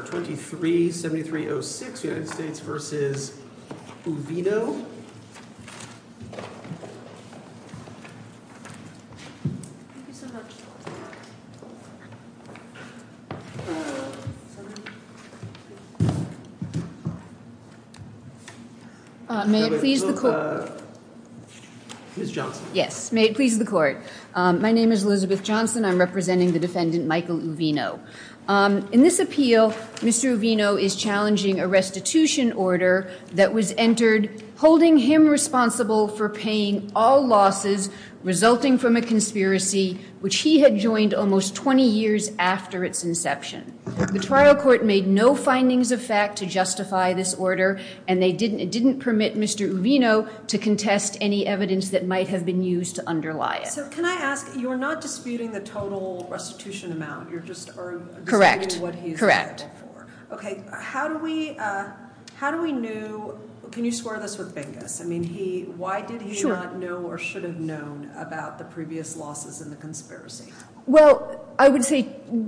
23-7306 United States v. Uvino May it please the court my name is Elizabeth Mr. Uvino is challenging a restitution order that was entered holding him responsible for paying all losses resulting from a conspiracy which he had joined almost 20 years after its inception the trial court made no findings of fact to justify this order and they didn't it didn't permit Mr. Uvino to contest any evidence that might have been used to underlie it so can I ask you're not disputing the total restitution amount you're just correct correct for okay how do we how do we knew can you swear this with bingus I mean he why did he not know or should have known about the previous losses in the conspiracy well I would say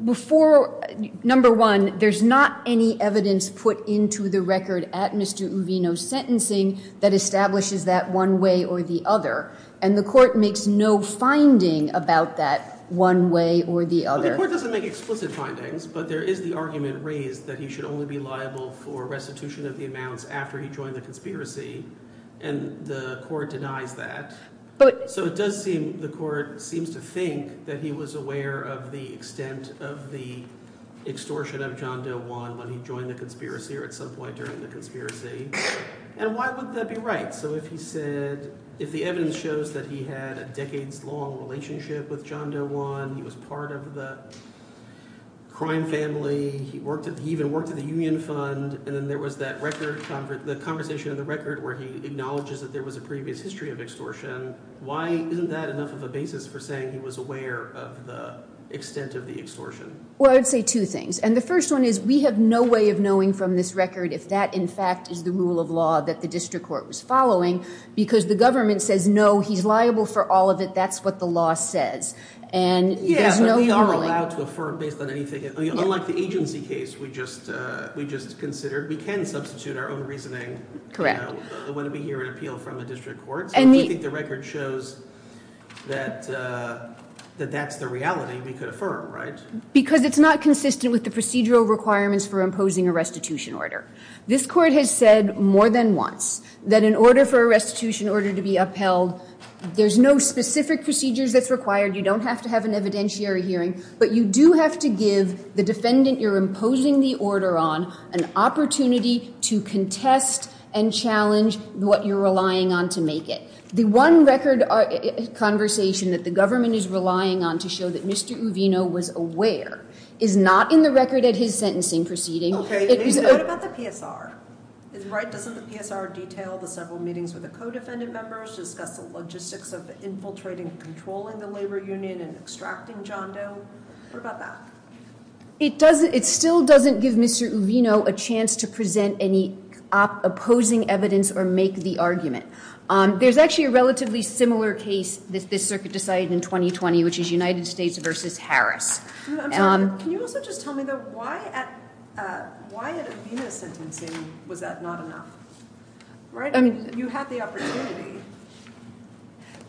before number one there's not any evidence put into the record at Mr. Uvino's sentencing that establishes that one way or the other and the court makes no finding about that one way or the other the court doesn't make explicit findings but there is the argument raised that he should only be liable for restitution of the amounts after he joined the conspiracy and the court denies that but so it does seem the court seems to think that he was aware of the extent of the extortion of John Doe one when he joined the conspiracy or at some point during the conspiracy and why would that be right so if he said if the evidence shows that he had a decades long relationship with John Doe one he was part of the crime family he worked at he even worked at the union fund and then there was that record the conversation in the record where he acknowledges that there was a previous history of extortion why isn't that enough of a basis for saying he was aware of the extent of the extortion well I'd say two things and the first one is we have no way of knowing from this record if that in fact is the rule of law that the district court was following because the government says no he's liable for all of it that's what the law says and yeah but we are allowed to affirm based on anything unlike the agency case we just uh we just considered we can substitute our own reasoning you know when we hear an appeal from the district court so if we think the record shows that uh that that's the reality we could affirm right because it's not consistent with the procedural requirements for imposing a restitution order this court has said more than once that in order for a restitution order to be upheld there's no specific procedures that's required you don't have to have an evidentiary hearing but you do have to give the defendant you're imposing the order on an opportunity to contest and challenge what you're relying on to make it the one record conversation that the government is relying on to show that Mr. Uvino was aware is not in the record at his sentencing proceeding Okay, what about the PSR? Right, doesn't the PSR detail the several meetings with the co-defendant members discuss the logistics of infiltrating and controlling the labor union and extracting John Doe? What about that? It still doesn't give Mr. Uvino a chance to present any opposing evidence or make the argument. There's actually a relatively similar case this circuit decided in 2020 which is United States versus Harris. Can you also just tell me though, why at Uvino's sentencing was that not enough? You had the opportunity.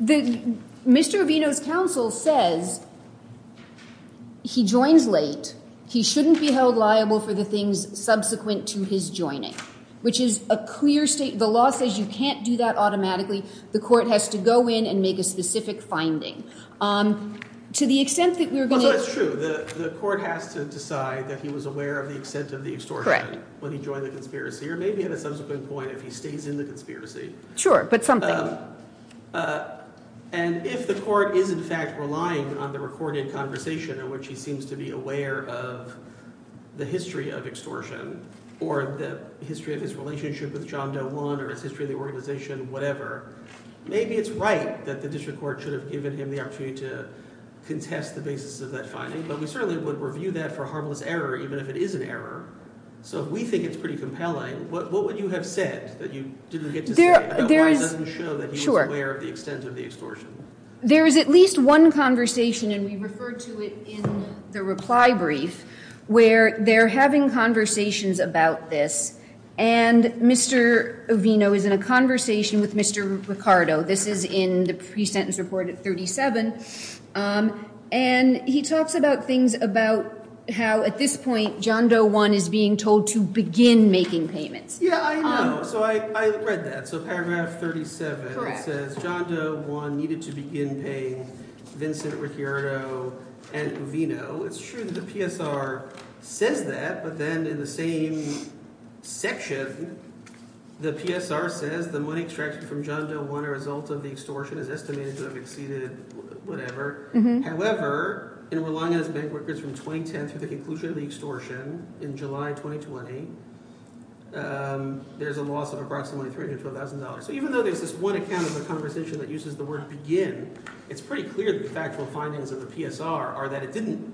Mr. Uvino's counsel says he joins late, he shouldn't be held liable for the things subsequent to his joining, which is a clear statement, the law says you can't do that automatically, the court has to go in and make a specific finding. Also it's true, the court has to decide that he was aware of the extent of the extortion when he joined the conspiracy, or maybe at a subsequent point if he stays in the conspiracy. Sure, but something. And if the court is in fact relying on the recorded conversation in which he seems to be aware of the history of extortion, or the history of his relationship with John Doe 1 or his history of the organization, whatever, maybe it's right that the district court should have given him the opportunity to contest the basis of that finding, but we certainly would review that for harmless error even if it is an error. So if we think it's pretty compelling, what would you have said that you didn't get to say about why it doesn't show that he was aware of the extent of the extortion? There is at least one conversation, and we referred to it in the reply brief, where they're having conversations about this, and Mr. Avino is in a conversation with Mr. Ricardo, this is in the pre-sentence report at 37, and he talks about things about how at this point John Doe 1 is being told to begin making payments. Yeah, I know. So I read that. So paragraph 37, it says John Doe 1 needed to begin paying Vincent, Ricardo, and Avino. It's true that the PSR says that, but then in the same section, the PSR says the money extracted from John Doe 1, a result of the extortion, is estimated to have exceeded whatever. However, in relying on his bank records from 2010 through the conclusion of the extortion in July 2020, there's a loss of approximately $312,000. So even though there's this one account of the conversation that uses the word begin, it's pretty clear that the factual findings of the PSR are that it didn't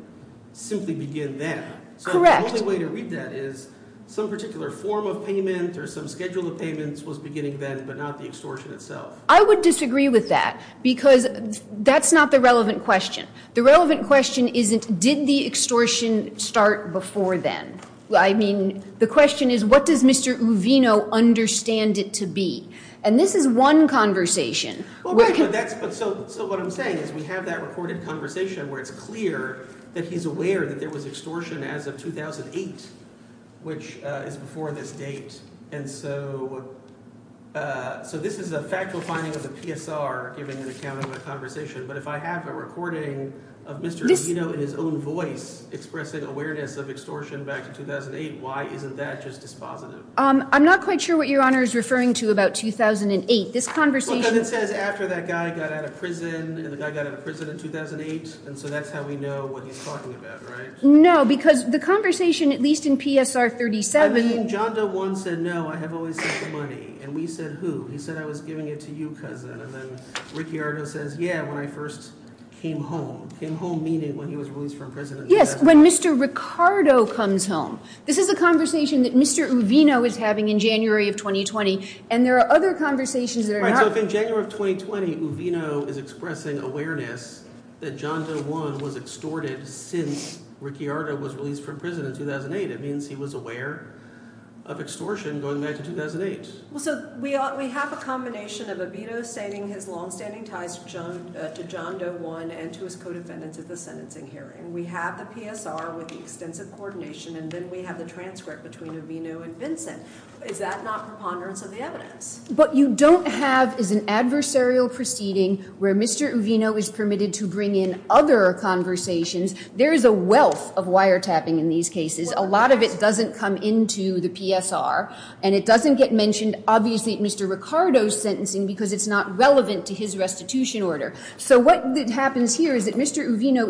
simply begin then. Correct. So the only way to read that is some particular form of payment or some schedule of payments was beginning then but not the extortion itself. I would disagree with that because that's not the relevant question. The relevant question isn't did the extortion start before then. I mean the question is what does Mr. Avino understand it to be, and this is one conversation. So what I'm saying is we have that recorded conversation where it's clear that he's aware that there was extortion as of 2008, which is before this date. And so this is a factual finding of the PSR giving an account of a conversation. But if I have a recording of Mr. Avino in his own voice expressing awareness of extortion back in 2008, why isn't that just dispositive? I'm not quite sure what Your Honor is referring to about 2008. This conversation Well, because it says after that guy got out of prison and the guy got out of prison in 2008, and so that's how we know what he's talking about, right? No, because the conversation at least in PSR 37 I mean John Doe once said no, I have always had the money. And we said who? He said I was giving it to you, cousin. And then Ricky Ardo says yeah, when I first came home. Came home meaning when he was released from prison in 2008. Yes, when Mr. Ricardo comes home. This is a conversation that Mr. Avino is having in January of 2020. And there are other conversations that are not Right, so in January of 2020, Avino is expressing awareness that John Doe I was extorted since Ricky Ardo was released from prison in 2008. It means he was aware of extortion going back to 2008. Well, so we have a combination of Avino stating his longstanding ties to John Doe I and to his co-defendants at the sentencing hearing. We have the PSR with the extensive coordination, and then we have the transcript between Avino and Vincent. Is that not preponderance of the evidence? What you don't have is an adversarial proceeding where Mr. Avino is permitted to bring in other conversations. There is a wealth of wiretapping in these cases. A lot of it doesn't come into the PSR. And it doesn't get mentioned, obviously, at Mr. Ricardo's sentencing because it's not relevant to his restitution order. So what happens here is that Mr. Avino,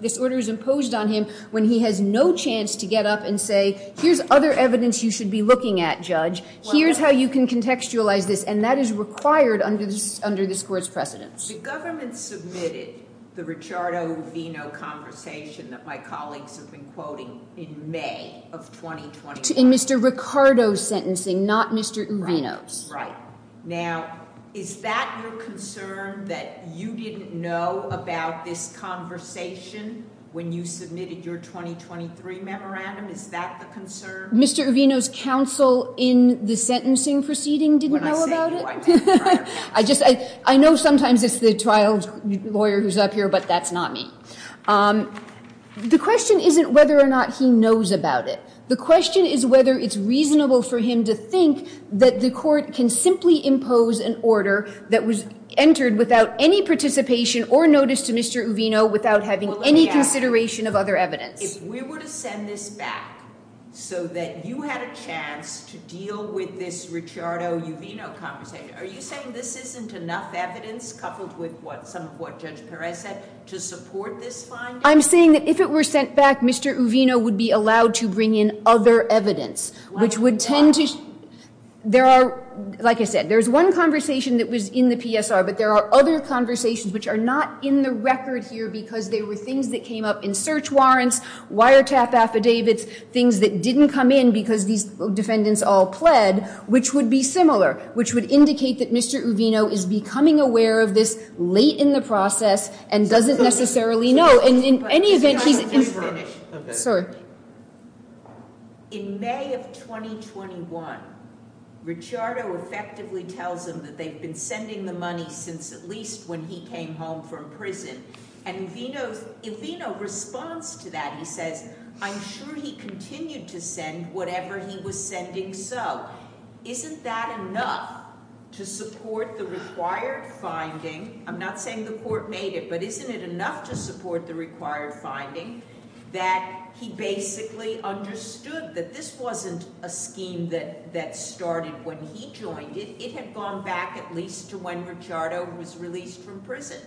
this order is imposed on him when he has no chance to get up and say, Here's other evidence you should be looking at, Judge. Here's how you can contextualize this. And that is required under this court's precedence. The government submitted the Richardo Avino conversation that my colleagues have been quoting in May of 2020. In Mr. Ricardo's sentencing, not Mr. Avino's. Now, is that your concern that you didn't know about this conversation when you submitted your 2023 memorandum? Is that the concern? Mr. Avino's counsel in the sentencing proceeding didn't know about it. I know sometimes it's the trial lawyer who's up here, but that's not me. The question isn't whether or not he knows about it. The question is whether it's reasonable for him to think that the court can simply impose an order that was entered without any participation or notice to Mr. Avino without having any consideration of other evidence. If we were to send this back so that you had a chance to deal with this Richardo Avino conversation, are you saying this isn't enough evidence coupled with some of what Judge Perez said to support this finding? I'm saying that if it were sent back, Mr. Avino would be allowed to bring in other evidence, which would tend to, there are, like I said, there's one conversation that was in the PSR, but there are other conversations which are not in the record here because there were things that came up in search warrants, wiretap affidavits, things that didn't come in because these defendants all pled, which would be similar, which would indicate that Mr. Avino is becoming aware of this late in the process and doesn't necessarily know. In May of 2021, Richardo effectively tells him that they've been sending the money since at least when he came home from prison. And Avino's Avino response to that, he says, I'm sure he continued to send whatever he was sending. So isn't that enough to support the required finding? I'm not saying the court made it, but isn't it enough to support the required finding that he basically understood that this wasn't a scheme that that started when he joined it? It had gone back at least to when Richardo was released from prison.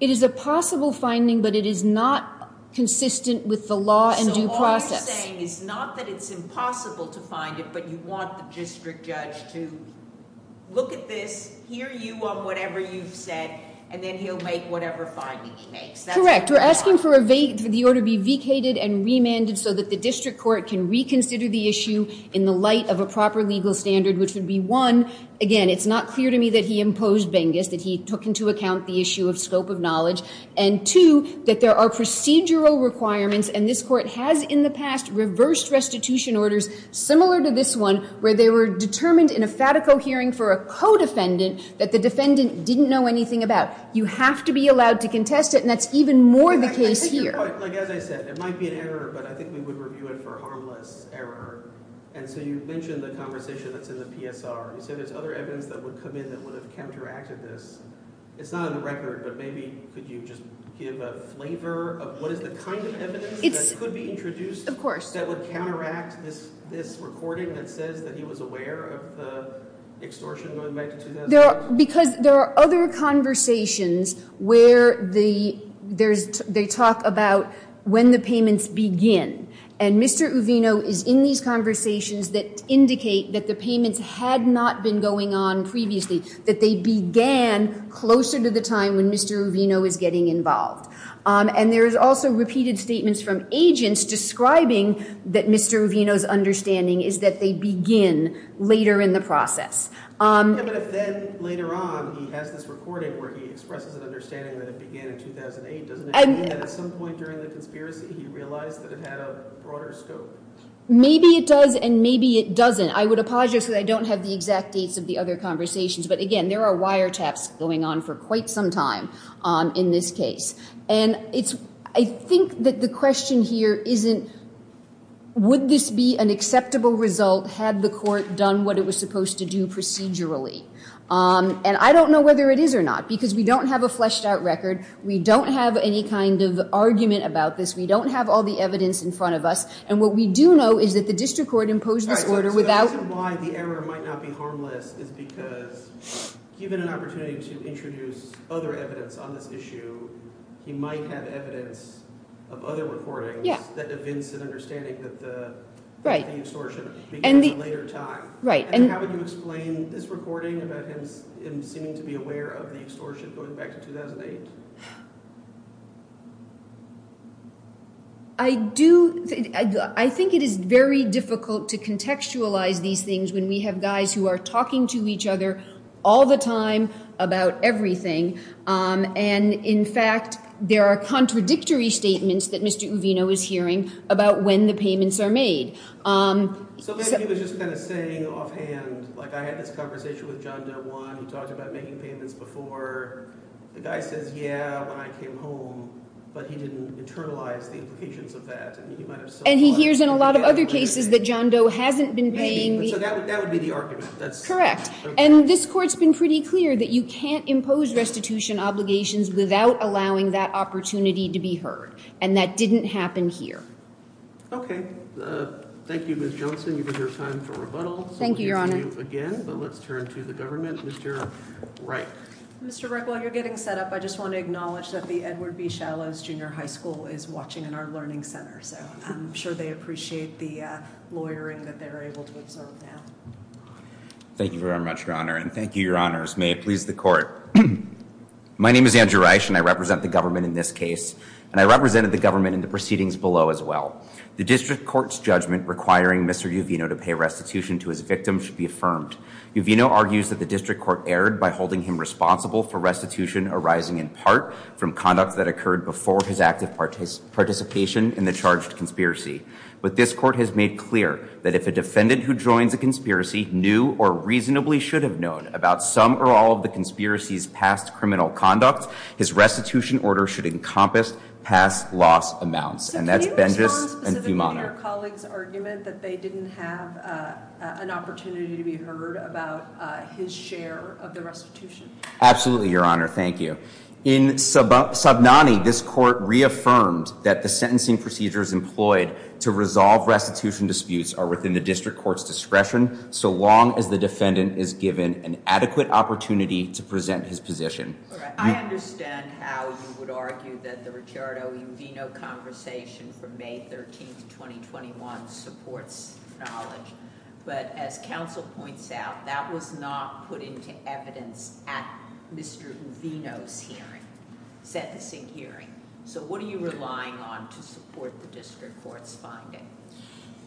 It is a possible finding, but it is not consistent with the law and due process. What I'm saying is not that it's impossible to find it, but you want the district judge to look at this, hear you on whatever you've said, and then he'll make whatever finding he makes. Correct. We're asking for the order be vacated and remanded so that the district court can reconsider the issue in the light of a proper legal standard, which would be one, again, it's not clear to me that he imposed Bengis, that he took into account the issue of scope of knowledge, and two, that there are procedural requirements, and this court has in the past reversed restitution orders similar to this one, where they were determined in a FATICO hearing for a co-defendant that the defendant didn't know anything about. You have to be allowed to contest it, and that's even more the case here. Like as I said, it might be an error, but I think we would review it for harmless error. And so you mentioned the conversation that's in the PSR. You said there's other evidence that would come in that would have counteracted this. It's not on the record, but maybe could you just give a flavor of what is the kind of evidence that could be introduced that would counteract this recording that says that he was aware of the extortion going back to 2002? Because there are other conversations where they talk about when the payments begin, and Mr. Uvino is in these conversations that indicate that the payments had not been going on previously, that they began closer to the time when Mr. Uvino is getting involved. And there is also repeated statements from agents describing that Mr. Uvino's understanding is that they begin later in the process. Yeah, but if then later on he has this recording where he expresses an understanding that it began in 2008, doesn't it mean that at some point during the conspiracy he realized that it had a broader scope? Maybe it does, and maybe it doesn't. Again, I would apologize because I don't have the exact dates of the other conversations, but, again, there are wiretaps going on for quite some time in this case. And I think that the question here isn't would this be an acceptable result had the court done what it was supposed to do procedurally. And I don't know whether it is or not because we don't have a fleshed-out record. We don't have any kind of argument about this. We don't have all the evidence in front of us. And what we do know is that the district court imposed this order without – So the reason why the error might not be harmless is because given an opportunity to introduce other evidence on this issue, he might have evidence of other recordings that evince an understanding that the extortion began at a later time. Right. And how would you explain this recording about him seeming to be aware of the extortion going back to 2008? I do – I think it is very difficult to contextualize these things when we have guys who are talking to each other all the time about everything. And, in fact, there are contradictory statements that Mr. Uvino is hearing about when the payments are made. So maybe he was just kind of saying offhand, like I had this conversation with John Del Juan. He talked about making payments before. The guy says, yeah, when I came home, but he didn't internalize the implications of that. And he hears in a lot of other cases that John Doe hasn't been paying the – So that would be the argument. Correct. And this Court's been pretty clear that you can't impose restitution obligations without allowing that opportunity to be heard. And that didn't happen here. Okay. Thank you, Ms. Johnson. You have your time for rebuttal. Thank you, Your Honor. So we'll hear from you again, but let's turn to the government. Mr. Reich. Mr. Reich, while you're getting set up, I just want to acknowledge that the Edward B. Shallows Junior High School is watching in our Learning Center. So I'm sure they appreciate the lawyering that they're able to observe now. Thank you very much, Your Honor. And thank you, Your Honors. May it please the Court. My name is Andrew Reich, and I represent the government in this case. And I represented the government in the proceedings below as well. The District Court's judgment requiring Mr. Uvino to pay restitution to his victim should be affirmed. Uvino argues that the District Court erred by holding him responsible for restitution arising in part from conduct that occurred before his active participation in the charged conspiracy. But this Court has made clear that if a defendant who joins a conspiracy knew or reasonably should have known about some or all of the conspiracy's past criminal conduct, his restitution order should encompass past loss amounts. And that's Bengis and Fiumano. So can you tell us specifically your colleagues' argument that they didn't have an opportunity to be heard about his share of the restitution? Absolutely, Your Honor. Thank you. In Sabnani, this Court reaffirmed that the sentencing procedures employed to resolve restitution disputes are within the District Court's discretion so long as the defendant is given an adequate opportunity to present his position. I understand how you would argue that the Ricciardo-Uvino conversation from May 13, 2021 supports knowledge. But as counsel points out, that was not put into evidence at Mr. Uvino's hearing, sentencing hearing. So what are you relying on to support the District Court's finding?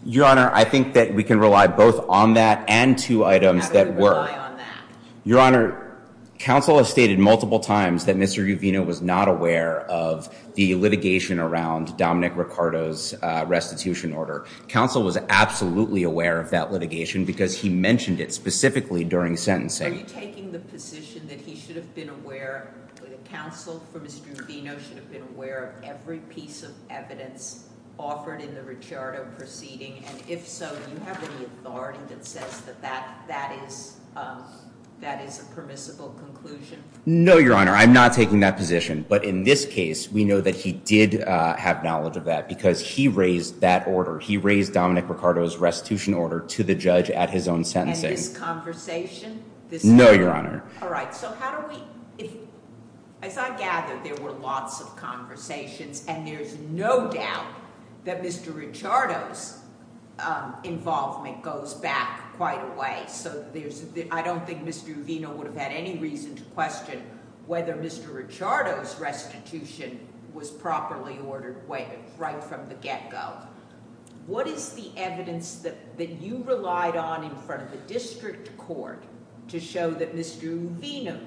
Your Honor, I think that we can rely both on that and two items that were... How do you rely on that? Your Honor, counsel has stated multiple times that Mr. Uvino was not aware of the litigation around Dominic Ricciardo's restitution order. Counsel was absolutely aware of that litigation because he mentioned it specifically during sentencing. Are you taking the position that he should have been aware, that counsel for Mr. Uvino should have been aware of every piece of evidence offered in the Ricciardo proceeding? And if so, do you have any authority that says that that is a permissible conclusion? No, Your Honor. I'm not taking that position. But in this case, we know that he did have knowledge of that because he raised that order. He raised Dominic Ricciardo's restitution order to the judge at his own sentencing. No, Your Honor. All right. So how do we... As I gather, there were lots of conversations, and there's no doubt that Mr. Ricciardo's involvement goes back quite a way. So I don't think Mr. Uvino would have had any reason to question whether Mr. Ricciardo's restitution was properly ordered right from the get-go. What is the evidence that you relied on in front of the district court to show that Mr. Uvino...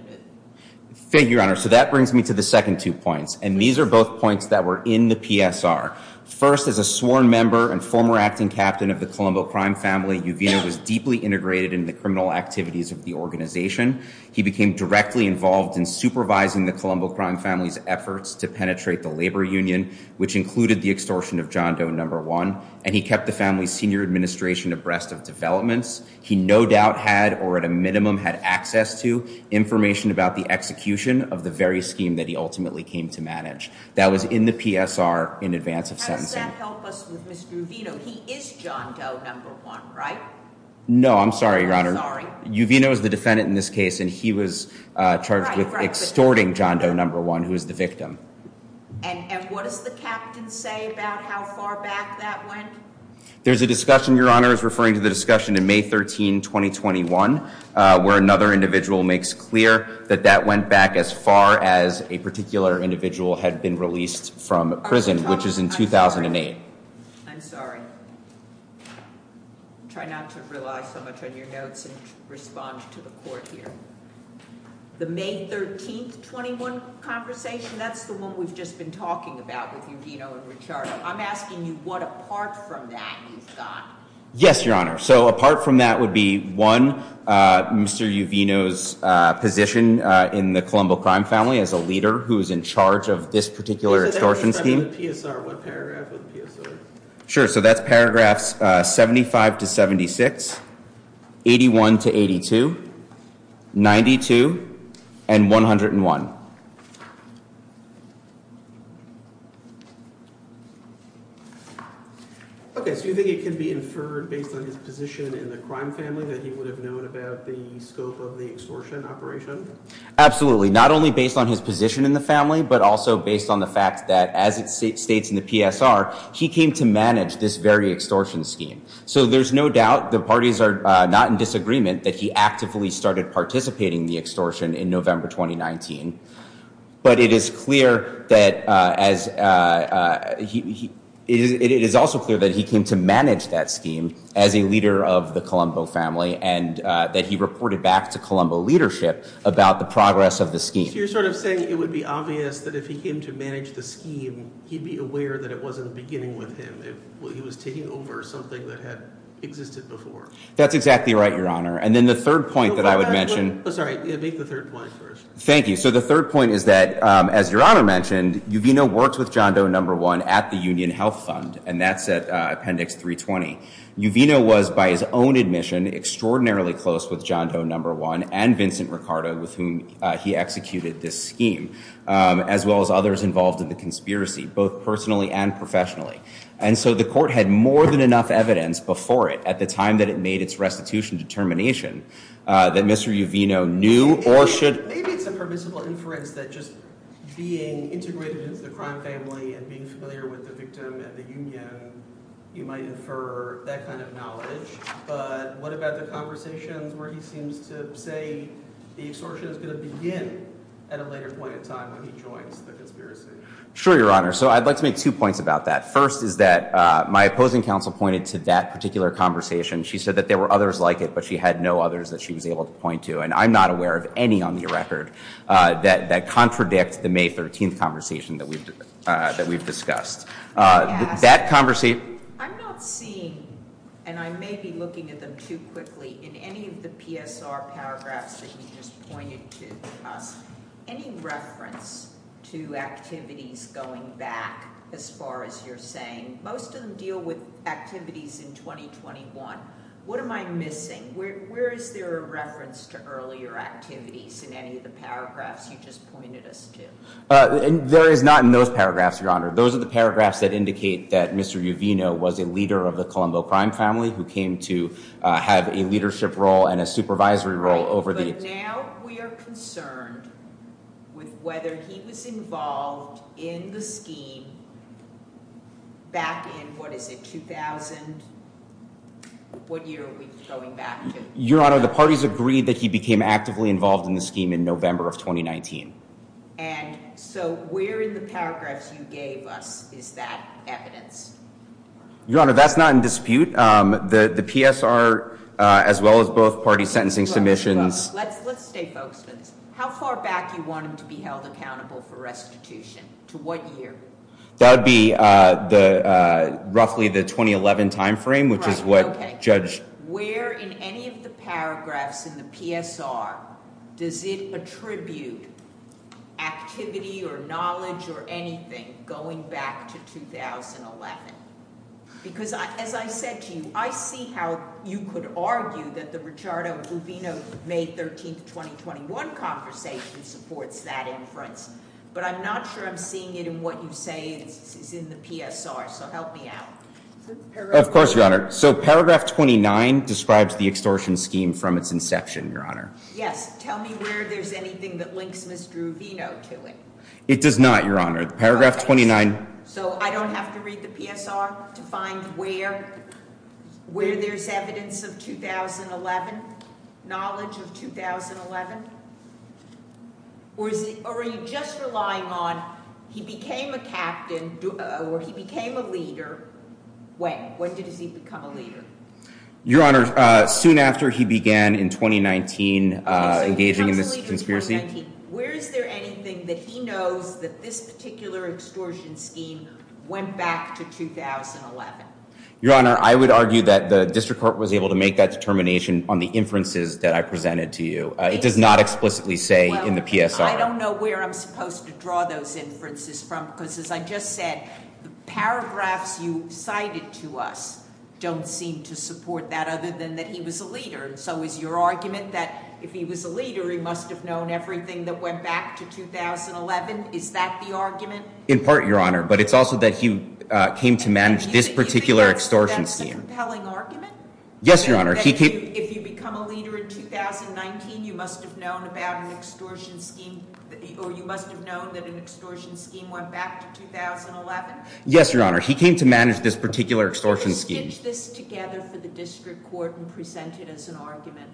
Thank you, Your Honor. So that brings me to the second two points. And these are both points that were in the PSR. First, as a sworn member and former acting captain of the Colombo crime family, Uvino was deeply integrated in the criminal activities of the organization. He became directly involved in supervising the Colombo crime family's efforts to penetrate the labor union, which included the extortion of John Doe No. 1. And he kept the family's senior administration abreast of developments. He no doubt had, or at a minimum had access to, information about the execution of the very scheme that he ultimately came to manage. That was in the PSR in advance of sentencing. How does that help us with Mr. Uvino? He is John Doe No. 1, right? No, I'm sorry, Your Honor. I'm sorry. Mr. Uvino is the defendant in this case, and he was charged with extorting John Doe No. 1, who is the victim. And what does the captain say about how far back that went? There's a discussion, Your Honor, I was referring to the discussion in May 13, 2021, where another individual makes clear that that went back as far as a particular individual had been released from prison, which is in 2008. I'm sorry. Try not to rely so much on your notes and respond to the court here. The May 13, 2021 conversation, that's the one we've just been talking about with Uvino and Ricciardo. I'm asking you what apart from that you've got. Yes, Your Honor. So apart from that would be one, Mr. Uvino's position in the Colombo crime family as a leader who is in charge of this particular extortion scheme. Sure. So that's paragraphs 75 to 76, 81 to 82, 92 and 101. OK, so you think it could be inferred based on his position in the crime family that he would have known about the scope of the extortion operation? Absolutely, not only based on his position in the family, but also based on the fact that as it states in the PSR, he came to manage this very extortion scheme. So there's no doubt the parties are not in disagreement that he actively started participating in the extortion in November 2019. But it is clear that as he is, it is also clear that he came to manage that scheme as a leader of the Colombo family and that he reported back to Colombo leadership about the progress of the scheme. You're sort of saying it would be obvious that if he came to manage the scheme, he'd be aware that it wasn't beginning with him. He was taking over something that had existed before. That's exactly right, Your Honor. And then the third point that I would mention. Sorry, make the third point first. Thank you. So the third point is that, as Your Honor mentioned, Uvino worked with John Doe No. 1 at the Union Health Fund, and that's at Appendix 320. Uvino was, by his own admission, extraordinarily close with John Doe No. 1 and Vincent Ricardo, with whom he executed this scheme, as well as others involved in the conspiracy, both personally and professionally. And so the court had more than enough evidence before it at the time that it made its restitution determination that Mr. Uvino knew or should. Maybe it's a permissible inference that just being integrated into the crime family and being familiar with the victim at the union, you might infer that kind of knowledge. But what about the conversations where he seems to say the extortion is going to begin at a later point in time when he joins the conspiracy? Sure, Your Honor. So I'd like to make two points about that. First is that my opposing counsel pointed to that particular conversation. She said that there were others like it, but she had no others that she was able to point to. And I'm not aware of any on the record that contradict the May 13th conversation that we've discussed. I'm not seeing, and I may be looking at them too quickly, in any of the PSR paragraphs that you just pointed to, any reference to activities going back, as far as you're saying? Most of them deal with activities in 2021. What am I missing? Where is there a reference to earlier activities in any of the paragraphs you just pointed us to? There is not in those paragraphs, Your Honor. Those are the paragraphs that indicate that Mr. Uvino was a leader of the Colombo crime family who came to have a leadership role and a supervisory role over the— Right, but now we are concerned with whether he was involved in the scheme back in, what is it, 2000? What year are we going back to? Your Honor, the parties agreed that he became actively involved in the scheme in November of 2019. And so where in the paragraphs you gave us is that evidence? Your Honor, that's not in dispute. The PSR, as well as both parties' sentencing submissions— Let's stay folks. How far back do you want him to be held accountable for restitution? To what year? That would be roughly the 2011 timeframe, which is what Judge— Where in any of the paragraphs in the PSR does it attribute activity or knowledge or anything going back to 2011? Because as I said to you, I see how you could argue that the Ricciardo-Uvino May 13, 2021 conversation supports that inference. But I'm not sure I'm seeing it in what you say is in the PSR, so help me out. Of course, Your Honor. So paragraph 29 describes the extortion scheme from its inception, Your Honor. Yes. Tell me where there's anything that links Ms. Druvino to it. It does not, Your Honor. Paragraph 29— So I don't have to read the PSR to find where there's evidence of 2011, knowledge of 2011? Or are you just relying on he became a captain or he became a leader—wait, when did he become a leader? Your Honor, soon after he began in 2019 engaging in this conspiracy. Where is there anything that he knows that this particular extortion scheme went back to 2011? Your Honor, I would argue that the District Court was able to make that determination on the inferences that I presented to you. It does not explicitly say in the PSR. Well, I don't know where I'm supposed to draw those inferences from because, as I just said, the paragraphs you cited to us don't seem to support that other than that he was a leader. So is your argument that if he was a leader, he must have known everything that went back to 2011? Is that the argument? In part, Your Honor, but it's also that he came to manage this particular extortion scheme. Do you think that's a compelling argument? Yes, Your Honor. That if you become a leader in 2019, you must have known about an extortion scheme, or you must have known that an extortion scheme went back to 2011? Yes, Your Honor. He came to manage this particular extortion scheme. Did you stitch this together for the District Court and present it as an argument?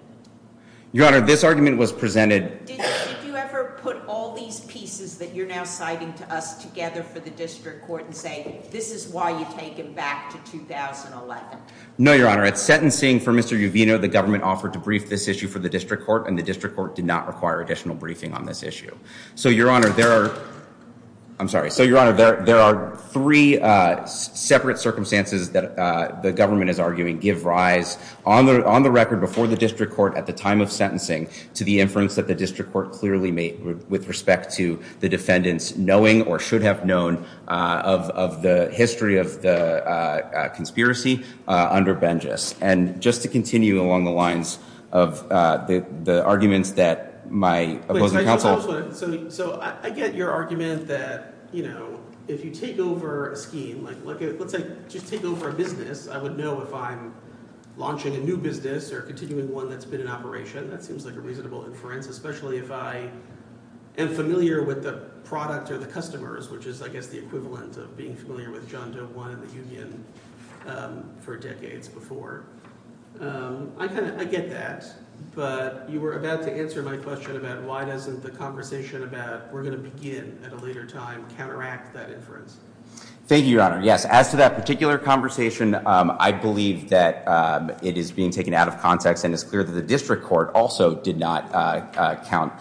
Your Honor, this argument was presented— Did you ever put all these pieces that you're now citing to us together for the District Court and say, this is why you take him back to 2011? No, Your Honor. At sentencing for Mr. Uvino, the government offered to brief this issue for the District Court, and the District Court did not require additional briefing on this issue. So, Your Honor, there are—I'm sorry. So, Your Honor, there are three separate circumstances that the government is arguing give rise, on the record, before the District Court at the time of sentencing, to the inference that the District Court clearly made with respect to the defendants knowing or should have known of the history of the conspiracy under Bengis. And just to continue along the lines of the arguments that my opposing counsel— So, I get your argument that, you know, if you take over a scheme, like let's say just take over a business, I would know if I'm launching a new business or continuing one that's been in operation. That seems like a reasonable inference, especially if I am familiar with the product or the customers, which is, I guess, the equivalent of being familiar with John Doe One and the union for decades before. I get that, but you were about to answer my question about why doesn't the conversation about we're going to begin at a later time counteract that inference. Thank you, Your Honor. Yes, as to that particular conversation, I believe that it is being taken out of context and it's clear that the District Court also did not count—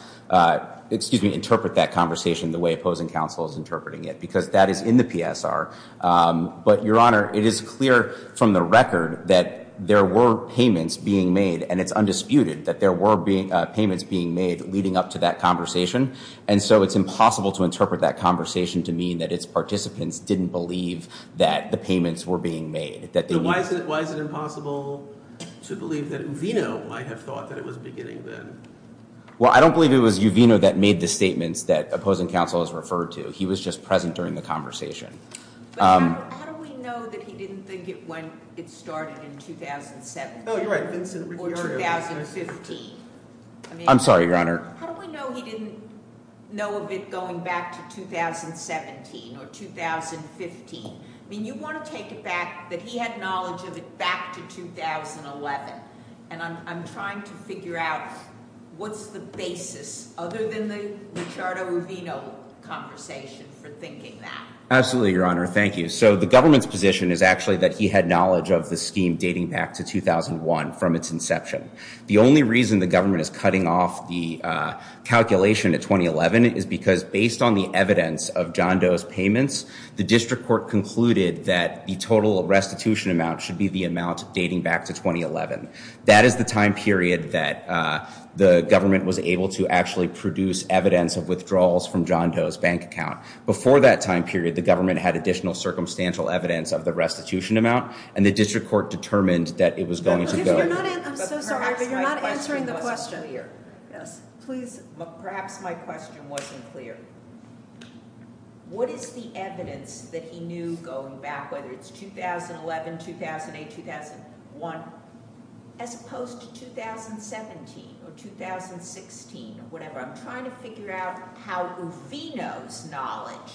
excuse me, interpret that conversation the way opposing counsel is interpreting it because that is in the PSR. But, Your Honor, it is clear from the record that there were payments being made, and it's undisputed that there were payments being made leading up to that conversation. And so it's impossible to interpret that conversation to mean that its participants didn't believe that the payments were being made. So why is it impossible to believe that Uvino might have thought that it was beginning then? Well, I don't believe it was Uvino that made the statements that opposing counsel has referred to. He was just present during the conversation. But how do we know that he didn't think it when it started in 2017? Oh, you're right. Or 2015. I'm sorry, Your Honor. How do we know he didn't know of it going back to 2017 or 2015? I mean, you want to take it back that he had knowledge of it back to 2011. And I'm trying to figure out what's the basis, other than the Ricciardo-Uvino conversation, for thinking that. Absolutely, Your Honor. Thank you. So the government's position is actually that he had knowledge of the scheme dating back to 2001 from its inception. The only reason the government is cutting off the calculation at 2011 is because, based on the evidence of John Doe's payments, the district court concluded that the total restitution amount should be the amount dating back to 2011. That is the time period that the government was able to actually produce evidence of withdrawals from John Doe's bank account. Before that time period, the government had additional circumstantial evidence of the restitution amount, and the district court determined that it was going to go. I'm so sorry, but you're not answering the question. Perhaps my question wasn't clear. What is the evidence that he knew going back, whether it's 2011, 2008, 2001, as opposed to 2017 or 2016? Whatever. I'm trying to figure out how Uvino's knowledge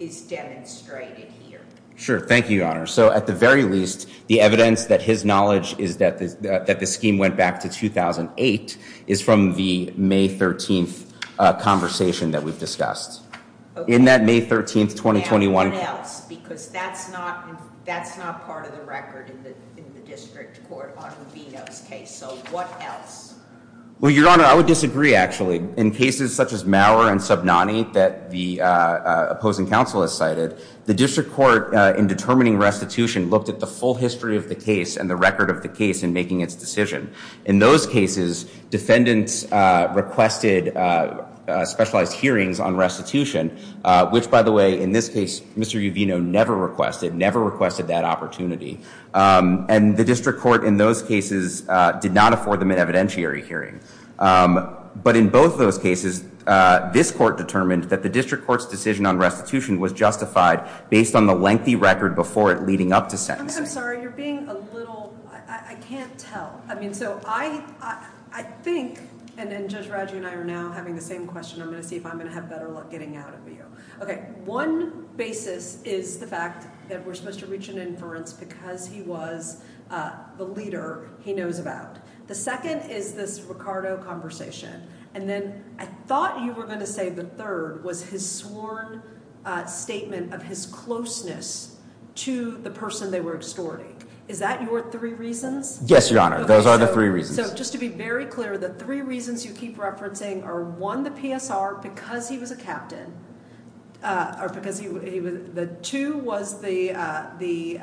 is demonstrated here. Sure. Thank you, Your Honor. So at the very least, the evidence that his knowledge is that the scheme went back to 2008 is from the May 13th conversation that we've discussed. Okay. In that May 13th, 2021. Now, what else? Because that's not part of the record in the district court on Uvino's case. So what else? Well, Your Honor, I would disagree, actually. In cases such as Maurer and Subnani that the opposing counsel has cited, the district court in determining restitution looked at the full history of the case and the record of the case in making its decision. In those cases, defendants requested specialized hearings on restitution, which, by the way, in this case, Mr. Uvino never requested, never requested that opportunity. And the district court in those cases did not afford them an evidentiary hearing. But in both of those cases, this court determined that the district court's decision on restitution was justified based on the lengthy record before it leading up to sentencing. I'm sorry, you're being a little, I can't tell. I mean, so I, I think, and then Judge Raju and I are now having the same question. I'm going to see if I'm going to have better luck getting out of you. Okay. One basis is the fact that we're supposed to reach an inference because he was the leader he knows about. The second is this Ricardo conversation. And then I thought you were going to say the third was his sworn statement of his closeness to the person they were extorting. Is that your three reasons? Yes, Your Honor. Those are the three reasons. So just to be very clear, the three reasons you keep referencing are, one, the PSR because he was a captain. Or because he was, the two was the, the,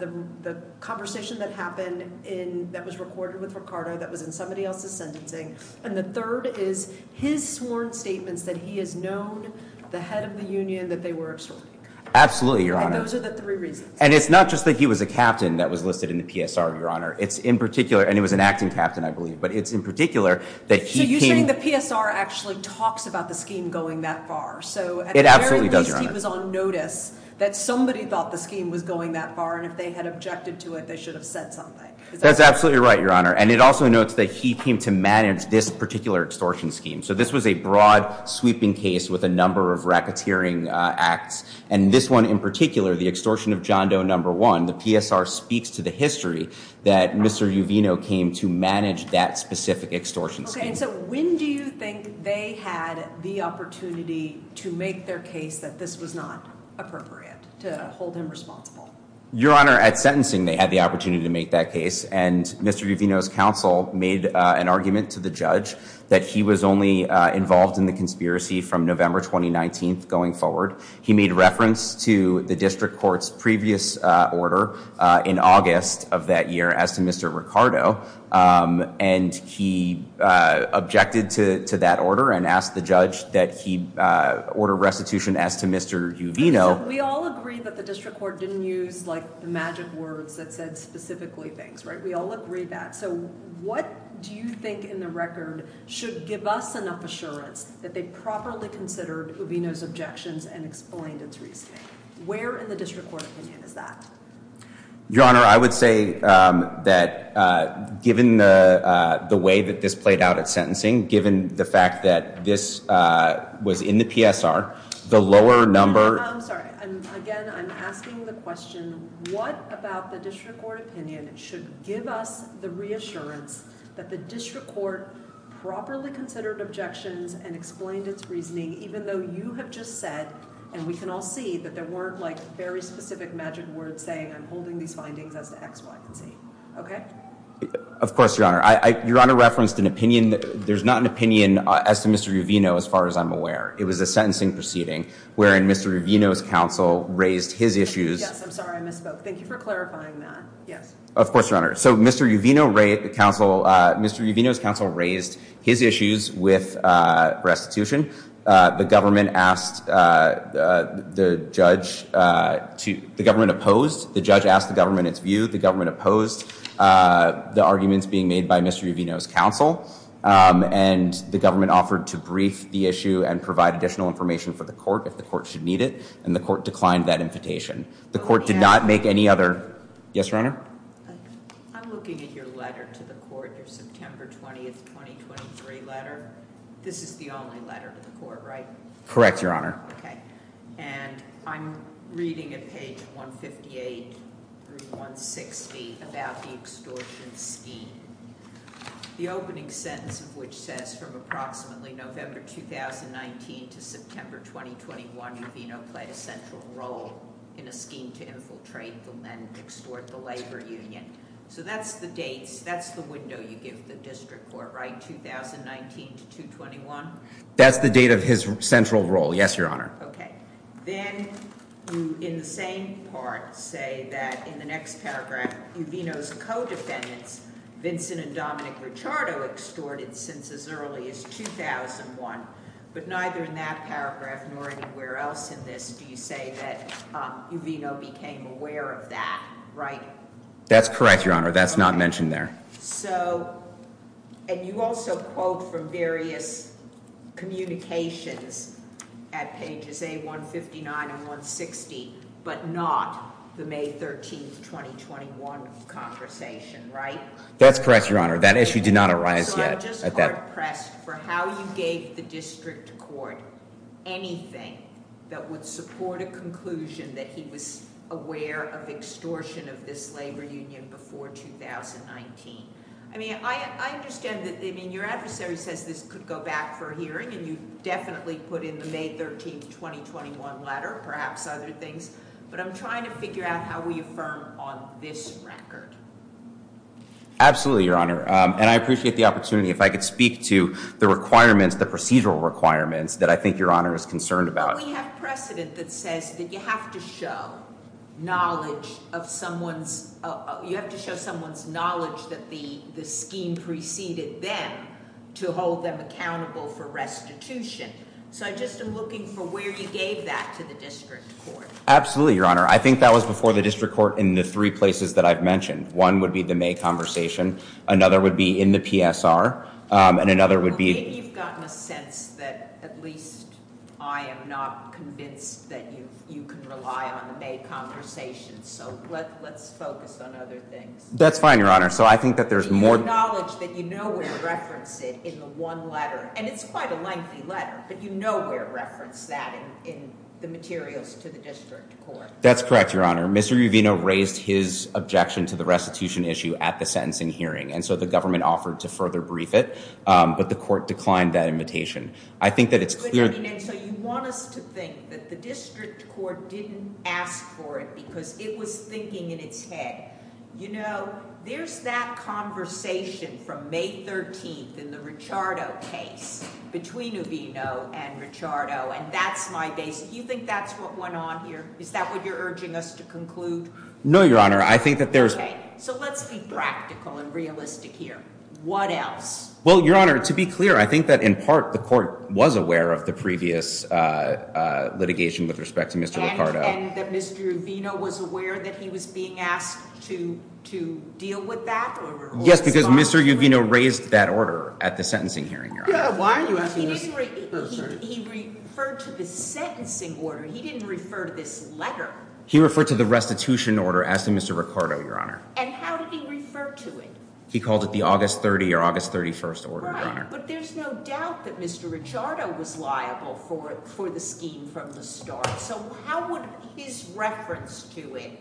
the conversation that happened in, that was recorded with Ricardo that was in somebody else's sentencing. And the third is his sworn statements that he has known the head of the union that they were extorting. Absolutely, Your Honor. And those are the three reasons. And it's not just that he was a captain that was listed in the PSR, Your Honor. It's in particular, and he was an acting captain, I believe. But it's in particular that he came. So you're saying the PSR actually talks about the scheme going that far. It absolutely does, Your Honor. So at the very least, he was on notice that somebody thought the scheme was going that far. And if they had objected to it, they should have said something. That's absolutely right, Your Honor. And it also notes that he came to manage this particular extortion scheme. So this was a broad sweeping case with a number of racketeering acts. And this one in particular, the extortion of John Doe No. 1, the PSR speaks to the history that Mr. Uvino came to manage that specific extortion scheme. Okay. And so when do you think they had the opportunity to make their case that this was not appropriate, to hold him responsible? Your Honor, at sentencing, they had the opportunity to make that case. And Mr. Uvino's counsel made an argument to the judge that he was only involved in the conspiracy from November 2019 going forward. He made reference to the district court's previous order in August of that year as to Mr. Ricardo. And he objected to that order and asked the judge that he order restitution as to Mr. Uvino. We all agree that the district court didn't use like the magic words that said specifically things, right? We all agree that. So what do you think in the record should give us enough assurance that they properly considered Uvino's objections and explained its reasoning? Where in the district court opinion is that? Your Honor, I would say that given the way that this played out at sentencing, given the fact that this was in the PSR, the lower number- I'm sorry. Again, I'm asking the question, what about the district court opinion should give us the reassurance that the district court properly considered objections and explained its reasoning even though you have just said and we can all see that there weren't like very specific magic words saying I'm holding these findings as to X, Y, and Z. Okay? Of course, Your Honor. Your Honor referenced an opinion. There's not an opinion as to Mr. Uvino as far as I'm aware. It was a sentencing proceeding wherein Mr. Uvino's counsel raised his issues- Yes, I'm sorry. I misspoke. Thank you for clarifying that. Yes. Of course, Your Honor. So Mr. Uvino's counsel raised his issues with restitution. The government opposed. The judge asked the government its view. The government opposed the arguments being made by Mr. Uvino's counsel, and the government offered to brief the issue and provide additional information for the court if the court should need it, and the court declined that invitation. The court did not make any other- Yes, Your Honor. I'm looking at your letter to the court, your September 20, 2023 letter. This is the only letter to the court, right? Correct, Your Honor. Okay. And I'm reading at page 158 through 160 about the extortion scheme. The opening sentence of which says from approximately November 2019 to September 2021, Uvino played a central role in a scheme to infiltrate the land and extort the labor union. So that's the dates. That's the window you give the district court, right? 2019 to 2021? That's the date of his central role. Yes, Your Honor. Okay. Then you, in the same part, say that in the next paragraph, Uvino's co-defendants, Vincent and Dominic Ricciardo, extorted since as early as 2001, but neither in that paragraph nor anywhere else in this do you say that Uvino became aware of that, right? That's correct, Your Honor. That's not mentioned there. So, and you also quote from various communications at pages 159 and 160, but not the May 13, 2021 conversation, right? That's correct, Your Honor. That issue did not arise yet. I'm just hard pressed for how you gave the district court anything that would support a conclusion that he was aware of extortion of this labor union before 2019. I mean, I understand that, I mean, your adversary says this could go back for a hearing, and you definitely put in the May 13, 2021 letter, perhaps other things, but I'm trying to figure out how we affirm on this record. Absolutely, Your Honor. And I appreciate the opportunity if I could speak to the requirements, the procedural requirements that I think Your Honor is concerned about. But we have precedent that says that you have to show knowledge of someone's, you have to show someone's knowledge that the scheme preceded them to hold them accountable for restitution. So I just am looking for where you gave that to the district court. Absolutely, Your Honor. I think that was before the district court in the three places that I've mentioned. One would be the May conversation, another would be in the PSR, and another would be- Well, maybe you've gotten a sense that at least I am not convinced that you can rely on the May conversation, so let's focus on other things. That's fine, Your Honor. So I think that there's more- Do you acknowledge that you know where to reference it in the one letter? And it's quite a lengthy letter, but you know where to reference that in the materials to the district court. That's correct, Your Honor. Mr. Uvino raised his objection to the restitution issue at the sentencing hearing, and so the government offered to further brief it, but the court declined that invitation. I think that it's clear- But, I mean, and so you want us to think that the district court didn't ask for it because it was thinking in its head. You know, there's that conversation from May 13th in the Ricciardo case between Uvino and Ricciardo, and that's my basic- I think that's what went on here. Is that what you're urging us to conclude? No, Your Honor. I think that there's- Okay, so let's be practical and realistic here. What else? Well, Your Honor, to be clear, I think that in part the court was aware of the previous litigation with respect to Mr. Ricciardo. And that Mr. Uvino was aware that he was being asked to deal with that? Yes, because Mr. Uvino raised that order at the sentencing hearing, Your Honor. Yeah, why are you asking this? He referred to the sentencing order. He didn't refer to this letter. He referred to the restitution order as to Mr. Ricciardo, Your Honor. And how did he refer to it? He called it the August 30 or August 31st order, Your Honor. Right, but there's no doubt that Mr. Ricciardo was liable for the scheme from the start. Right, so how would his reference to it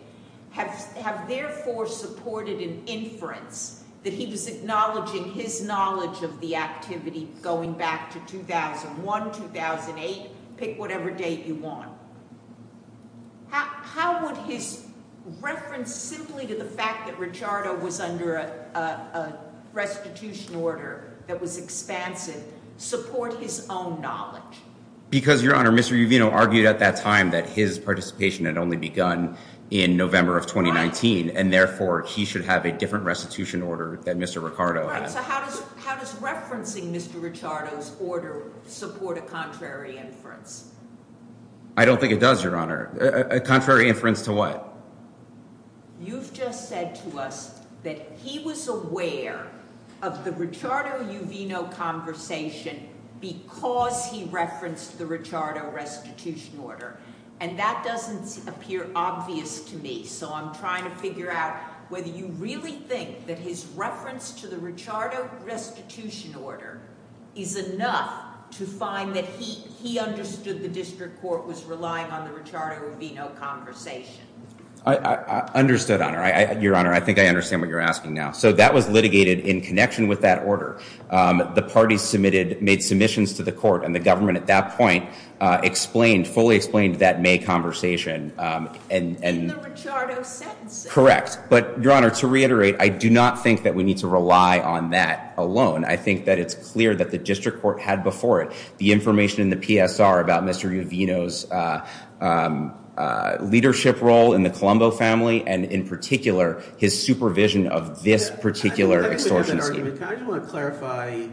have therefore supported an inference that he was acknowledging his knowledge of the activity going back to 2001, 2008, pick whatever date you want? How would his reference simply to the fact that Ricciardo was under a restitution order that was expansive support his own knowledge? Because, Your Honor, Mr. Uvino argued at that time that his participation had only begun in November of 2019, and therefore he should have a different restitution order that Mr. Ricciardo had. Right, so how does referencing Mr. Ricciardo's order support a contrary inference? I don't think it does, Your Honor. A contrary inference to what? You've just said to us that he was aware of the Ricciardo-Uvino conversation because he referenced the Ricciardo restitution order, and that doesn't appear obvious to me. So I'm trying to figure out whether you really think that his reference to the Ricciardo restitution order is enough to find that he understood the district court was relying on the Ricciardo-Uvino conversation. I understood, Your Honor. I think I understand what you're asking now. So that was litigated in connection with that order. The parties made submissions to the court, and the government at that point fully explained that May conversation. In the Ricciardo sentencing. Correct. But, Your Honor, to reiterate, I do not think that we need to rely on that alone. I think that it's clear that the district court had before it the information in the PSR about Mr. Uvino's leadership role in the Colombo family, and in particular, his supervision of this particular extortion scheme. I just want to clarify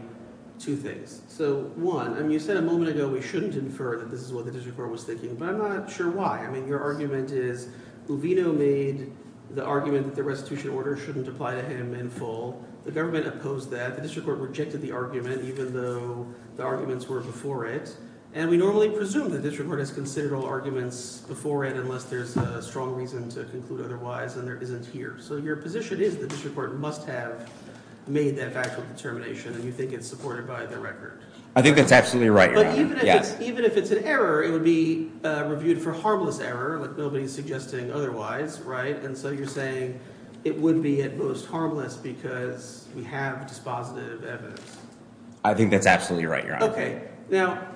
two things. So, one, I mean, you said a moment ago we shouldn't infer that this is what the district court was thinking, but I'm not sure why. I mean, your argument is Uvino made the argument that the restitution order shouldn't apply to him in full. The government opposed that. The district court rejected the argument even though the arguments were before it. And we normally presume the district court has considered all arguments before it unless there's a strong reason to conclude otherwise, and there isn't here. So your position is the district court must have made that factual determination, and you think it's supported by the record. I think that's absolutely right, Your Honor. But even if it's an error, it would be reviewed for harmless error, like nobody's suggesting otherwise, right? And so you're saying it would be at most harmless because we have dispositive evidence. I think that's absolutely right, Your Honor. Okay, now,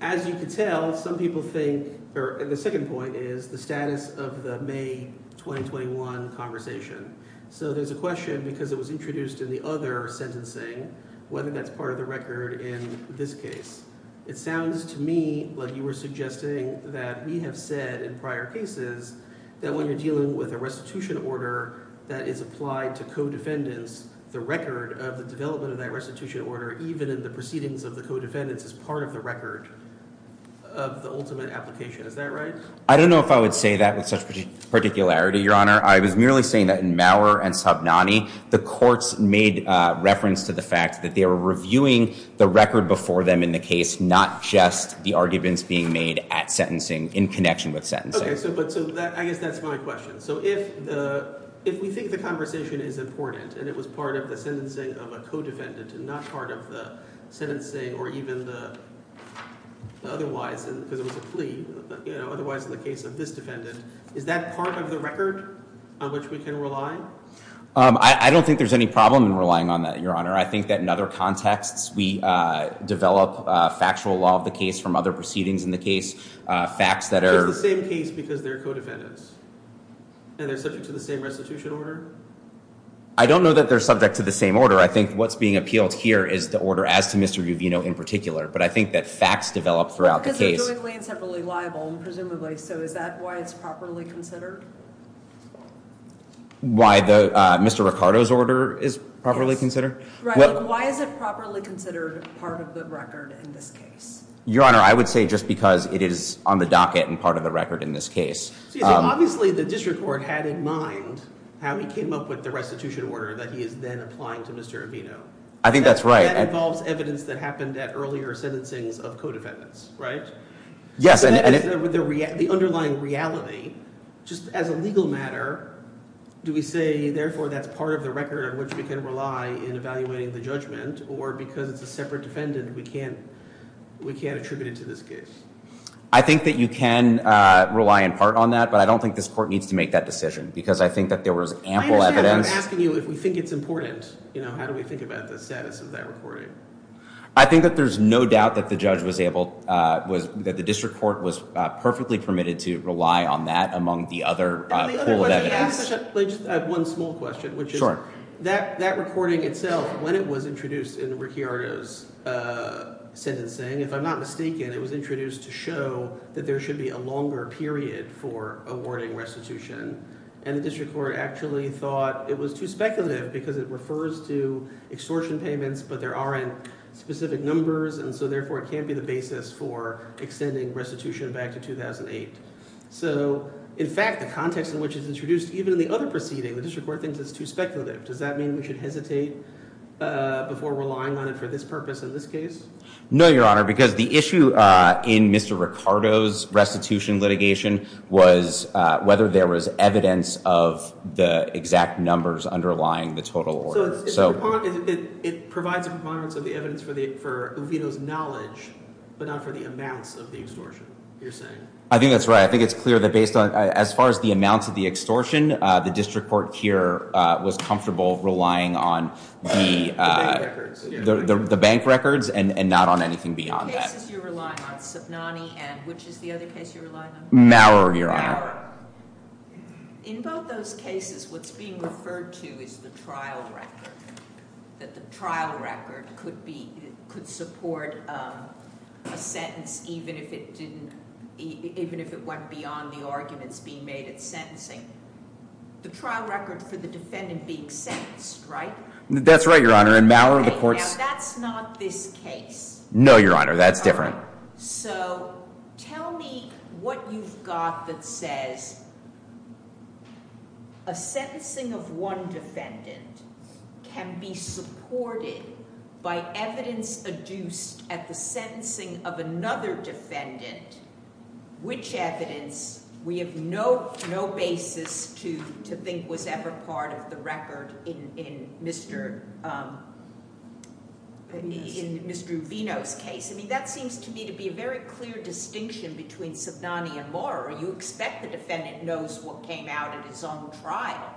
as you can tell, some people think – or the second point is the status of the May 2021 conversation. So there's a question because it was introduced in the other sentencing whether that's part of the record in this case. It sounds to me like you were suggesting that we have said in prior cases that when you're dealing with a restitution order that is applied to co-defendants, the record of the development of that restitution order, even in the proceedings of the co-defendants, is part of the record of the ultimate application. Is that right? I don't know if I would say that with such particularity, Your Honor. I was merely saying that in Maurer and Sabnani, the courts made reference to the fact that they were reviewing the record before them in the case, not just the arguments being made at sentencing in connection with sentencing. Okay, so I guess that's my question. So if we think the conversation is important and it was part of the sentencing of a co-defendant and not part of the sentencing or even the otherwise because it was a plea, otherwise in the case of this defendant, is that part of the record on which we can rely? I don't think there's any problem in relying on that, Your Honor. I think that in other contexts, we develop factual law of the case from other proceedings in the case, facts that are… It's the same case because they're co-defendants and they're subject to the same restitution order? I don't know that they're subject to the same order. I think what's being appealed here is the order as to Mr. Uvino in particular, but I think that facts develop throughout the case. Presumably and separately liable and presumably, so is that why it's properly considered? Why Mr. Ricardo's order is properly considered? Why is it properly considered part of the record in this case? Your Honor, I would say just because it is on the docket and part of the record in this case. Obviously, the district court had in mind how he came up with the restitution order that he is then applying to Mr. Uvino. I think that's right. That involves evidence that happened at earlier sentencings of co-defendants, right? Yes. So that is the underlying reality. Just as a legal matter, do we say therefore that's part of the record on which we can rely in evaluating the judgment or because it's a separate defendant, we can't attribute it to this case? I think that you can rely in part on that, but I don't think this court needs to make that decision because I think that there was ample evidence. I'm asking you if we think it's important. How do we think about the status of that recording? I think that there's no doubt that the judge was able – that the district court was perfectly permitted to rely on that among the other pool of evidence. I have one small question, which is that recording itself, when it was introduced in Ricardo's sentencing, if I'm not mistaken, it was introduced to show that there should be a longer period for awarding restitution. And the district court actually thought it was too speculative because it refers to extortion payments, but there aren't specific numbers, and so therefore it can't be the basis for extending restitution back to 2008. So, in fact, the context in which it's introduced, even in the other proceeding, the district court thinks it's too speculative. Does that mean we should hesitate before relying on it for this purpose in this case? No, Your Honor, because the issue in Mr. Ricardo's restitution litigation was whether there was evidence of the exact numbers underlying the total order. So it provides a preponderance of the evidence for Uvito's knowledge, but not for the amounts of the extortion, you're saying? I think that's right. I think it's clear that based on – as far as the amounts of the extortion, the district court here was comfortable relying on the – The bank records. The bank records, and not on anything beyond that. The cases you're relying on, Subnani, and which is the other case you're relying on? Maurer, Your Honor. Maurer. In both those cases, what's being referred to is the trial record, that the trial record could support a sentence even if it didn't – even if it went beyond the arguments being made at sentencing. The trial record for the defendant being sentenced, right? That's right, Your Honor. In Maurer, the court's – Now, that's not this case. No, Your Honor. That's different. So tell me what you've got that says a sentencing of one defendant can be supported by evidence adduced at the sentencing of another defendant, which evidence we have no basis to think was ever part of the record in Mr. Uvito's case. I mean, that seems to me to be a very clear distinction between Subnani and Maurer. You expect the defendant knows what came out at his own trial.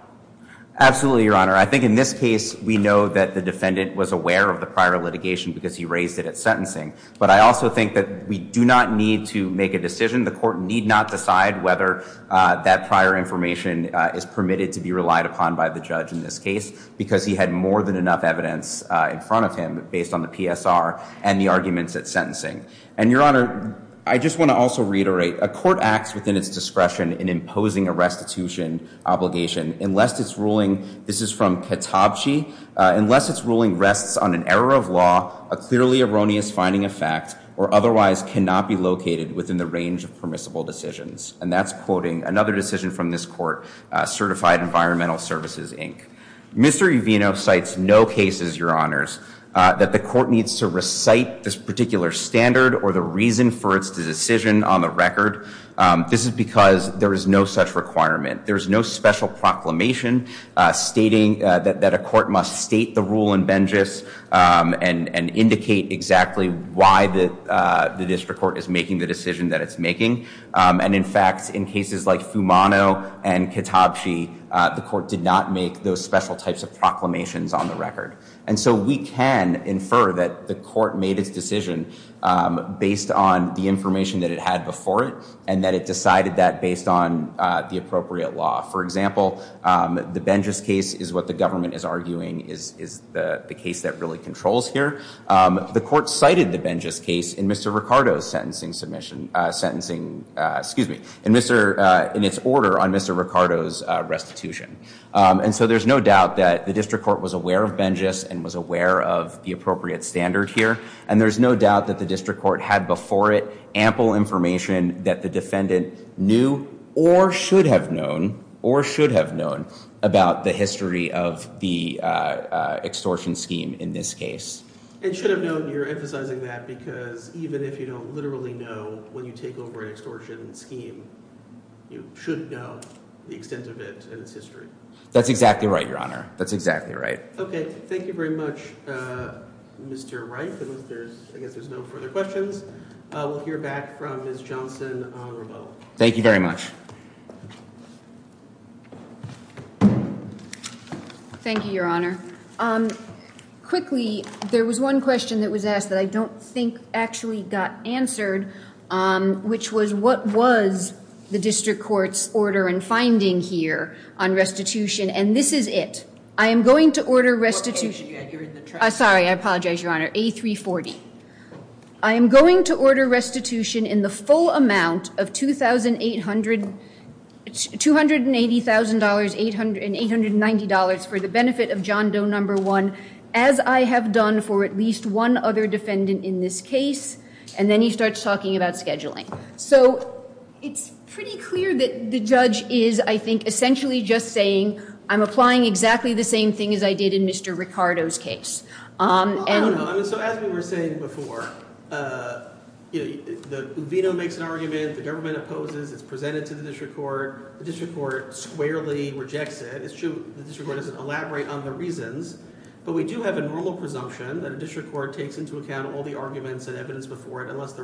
Absolutely, Your Honor. I think in this case, we know that the defendant was aware of the prior litigation because he raised it at sentencing. But I also think that we do not need to make a decision. The court need not decide whether that prior information is permitted to be relied upon by the judge in this case because he had more than enough evidence in front of him based on the PSR and the arguments at sentencing. And, Your Honor, I just want to also reiterate, a court acts within its discretion in imposing a restitution obligation unless its ruling – this is from Katabchi – unless its ruling rests on an error of law, a clearly erroneous finding of fact, or otherwise cannot be located within the range of permissible decisions. And that's quoting another decision from this court, Certified Environmental Services, Inc. Mr. Uvino cites no cases, Your Honors, that the court needs to recite this particular standard or the reason for its decision on the record. This is because there is no such requirement. There is no special proclamation stating that a court must state the rule in Bengis and indicate exactly why the district court is making the decision that it's making. And, in fact, in cases like Fumano and Katabchi, the court did not make those special types of proclamations on the record. And so we can infer that the court made its decision based on the information that it had before it and that it decided that based on the appropriate law. For example, the Bengis case is what the government is arguing is the case that really controls here. The court cited the Bengis case in Mr. Ricardo's sentencing submission, sentencing, excuse me, in its order on Mr. Ricardo's restitution. And so there's no doubt that the district court was aware of Bengis and was aware of the appropriate standard here. And there's no doubt that the district court had before it ample information that the defendant knew or should have known or should have known about the history of the extortion scheme in this case. It should have known. You're emphasizing that because even if you don't literally know when you take over an extortion scheme, you should know the extent of it and its history. That's exactly right, Your Honor. That's exactly right. OK. Thank you very much, Mr. Wright. I guess there's no further questions. We'll hear back from Ms. Johnson on rebuttal. Thank you very much. Thank you, Your Honor. Quickly, there was one question that was asked that I don't think actually got answered, which was what was the district court's order and finding here on restitution? And this is it. I am going to order restitution. Sorry, I apologize, Your Honor. A340. I am going to order restitution in the full amount of $280,000 and $890 for the benefit of John Doe No. 1, as I have done for at least one other defendant in this case. And then he starts talking about scheduling. So it's pretty clear that the judge is, I think, essentially just saying, I'm applying exactly the same thing as I did in Mr. Ricardo's case. I don't know. So as we were saying before, you know, Uvino makes an argument, the government opposes, it's presented to the district court, the district court squarely rejects it. It's true the district court doesn't elaborate on the reasons, but we do have a normal presumption that a district court takes into account all the arguments and evidence before it unless the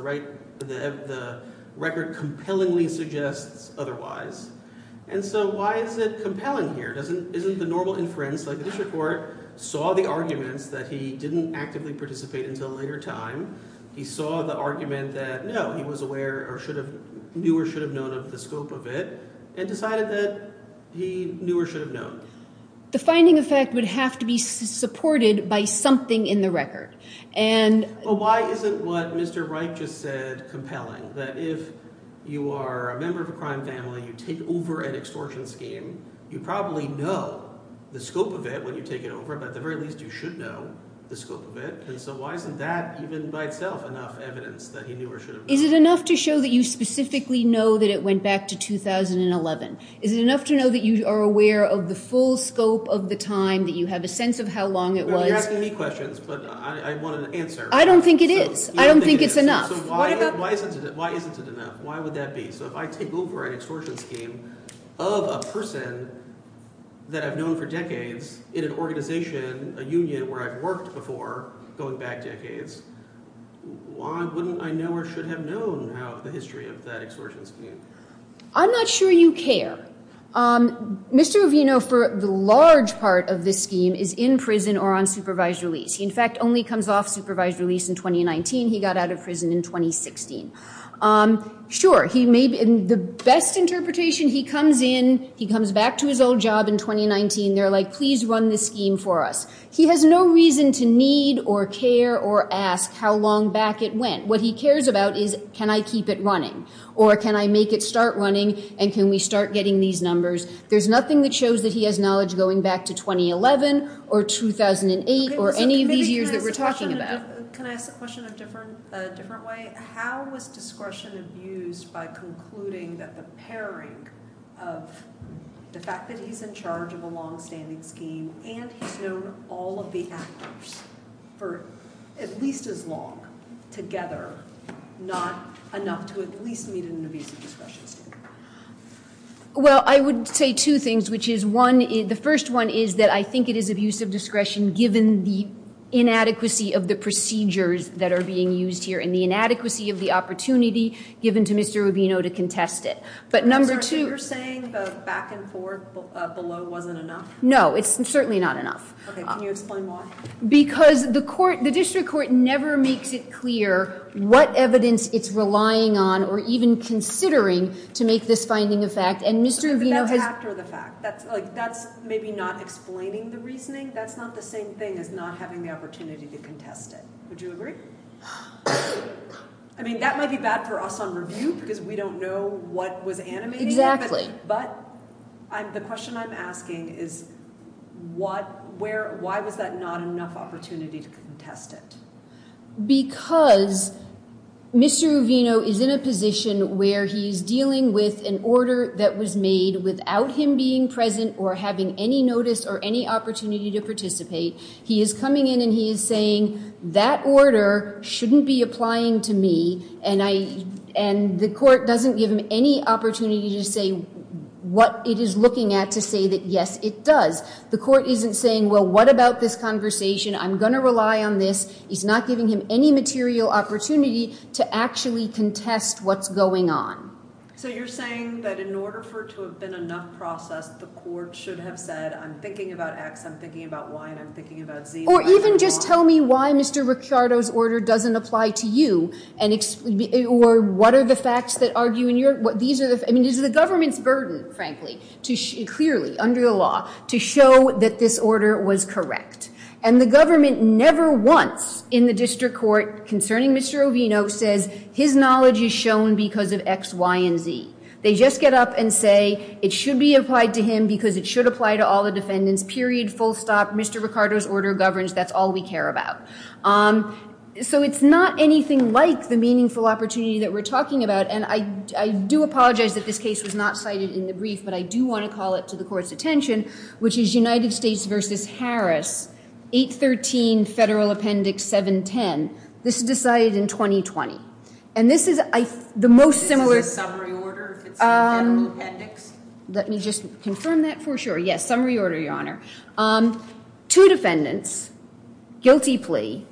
record compellingly suggests otherwise. And so why is it compelling here? Isn't the normal inference like the district court saw the arguments that he didn't actively participate until a later time? He saw the argument that, no, he was aware or should have – knew or should have known of the scope of it and decided that he knew or should have known. The finding of fact would have to be supported by something in the record. But why isn't what Mr. Wright just said compelling, that if you are a member of a crime family, you take over an extortion scheme, you probably know the scope of it when you take it over, but at the very least you should know the scope of it? And so why isn't that even by itself enough evidence that he knew or should have known? Is it enough to show that you specifically know that it went back to 2011? Is it enough to know that you are aware of the full scope of the time, that you have a sense of how long it was? You're asking me questions, but I want an answer. I don't think it is. I don't think it's enough. So why isn't it enough? Why would that be? So if I take over an extortion scheme of a person that I've known for decades in an organization, a union where I've worked before going back decades, why wouldn't I know or should have known the history of that extortion scheme? I'm not sure you care. Mr. Ravino, for the large part of this scheme, is in prison or on supervised release. He, in fact, only comes off supervised release in 2019. He got out of prison in 2016. Sure, the best interpretation, he comes in, he comes back to his old job in 2019. They're like, please run this scheme for us. He has no reason to need or care or ask how long back it went. What he cares about is can I keep it running or can I make it start running and can we start getting these numbers? There's nothing that shows that he has knowledge going back to 2011 or 2008 or any of these years that we're talking about. Can I ask a question a different way? How was discretion abused by concluding that the pairing of the fact that he's in charge of a longstanding scheme and he's known all of the actors for at least as long together, not enough to at least meet an abusive discretion scheme? Well, I would say two things, which is one, the first one is that I think it is abusive discretion given the inadequacy of the procedures that are being used here and the inadequacy of the opportunity given to Mr. Ravino to contest it. But number two- Is what you're saying about back and forth below wasn't enough? No, it's certainly not enough. Can you explain why? Because the district court never makes it clear what evidence it's relying on or even considering to make this finding a fact and Mr. Ravino has- But that's after the fact. That's maybe not explaining the reasoning. That's not the same thing as not having the opportunity to contest it. Would you agree? I mean, that might be bad for us on review because we don't know what was animated. But the question I'm asking is why was that not enough opportunity to contest it? Because Mr. Ravino is in a position where he's dealing with an order that was made without him being present or having any notice or any opportunity to participate. He is coming in and he is saying that order shouldn't be applying to me and the court doesn't give him any opportunity to say what it is looking at to say that yes, it does. The court isn't saying, well, what about this conversation? I'm going to rely on this. He's not giving him any material opportunity to actually contest what's going on. So you're saying that in order for it to have been enough process, the court should have said, I'm thinking about X, I'm thinking about Y, and I'm thinking about Z. Or even just tell me why Mr. Ricciardo's order doesn't apply to you. Or what are the facts that argue in your – I mean, it's the government's burden, frankly, clearly, under the law, to show that this order was correct. And the government never once in the district court concerning Mr. Ravino says his knowledge is shown because of X, Y, and Z. They just get up and say it should be applied to him because it should apply to all the defendants, period, full stop. Mr. Ricciardo's order governs. That's all we care about. So it's not anything like the meaningful opportunity that we're talking about. And I do apologize that this case was not cited in the brief, but I do want to call it to the court's attention, which is United States v. Harris, 813 Federal Appendix 710. This is decided in 2020. And this is the most similar – Is this a summary order if it's a federal appendix? Let me just confirm that for sure. Yes, summary order, Your Honor. Two defendants, guilty plea,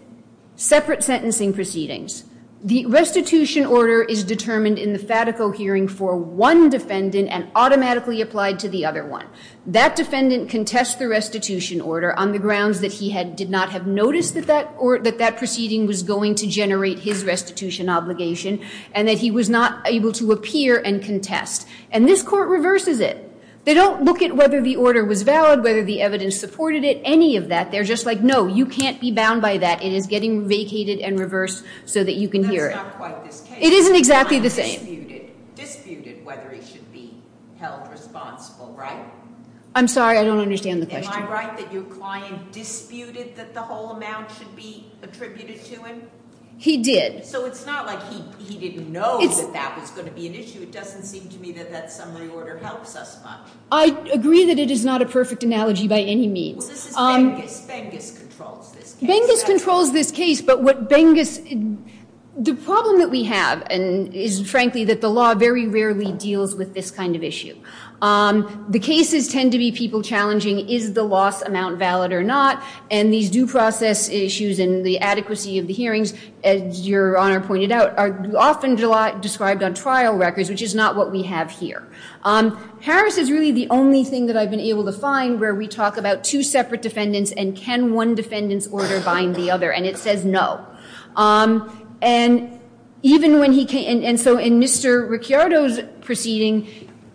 separate sentencing proceedings. The restitution order is determined in the FATICO hearing for one defendant and automatically applied to the other one. That defendant contests the restitution order on the grounds that he did not have noticed that that proceeding was going to generate his restitution obligation and that he was not able to appear and contest. And this court reverses it. They don't look at whether the order was valid, whether the evidence supported it, any of that. They're just like, no, you can't be bound by that. It is getting vacated and reversed so that you can hear it. That's not quite this case. It isn't exactly the same. The client disputed whether he should be held responsible, right? I'm sorry, I don't understand the question. Am I right that your client disputed that the whole amount should be attributed to him? He did. So it's not like he didn't know that that was going to be an issue. It doesn't seem to me that that summary order helps us much. I agree that it is not a perfect analogy by any means. Well, this is Bengus. Bengus controls this case. Bengus controls this case. But what Bengus, the problem that we have is, frankly, that the law very rarely deals with this kind of issue. The cases tend to be people challenging is the loss amount valid or not? And these due process issues and the adequacy of the hearings, as Your Honor pointed out, are often described on trial records, which is not what we have here. Harris is really the only thing that I've been able to find where we talk about two separate defendants and can one defendant's order bind the other, and it says no. And so in Mr. Ricciardo's proceeding,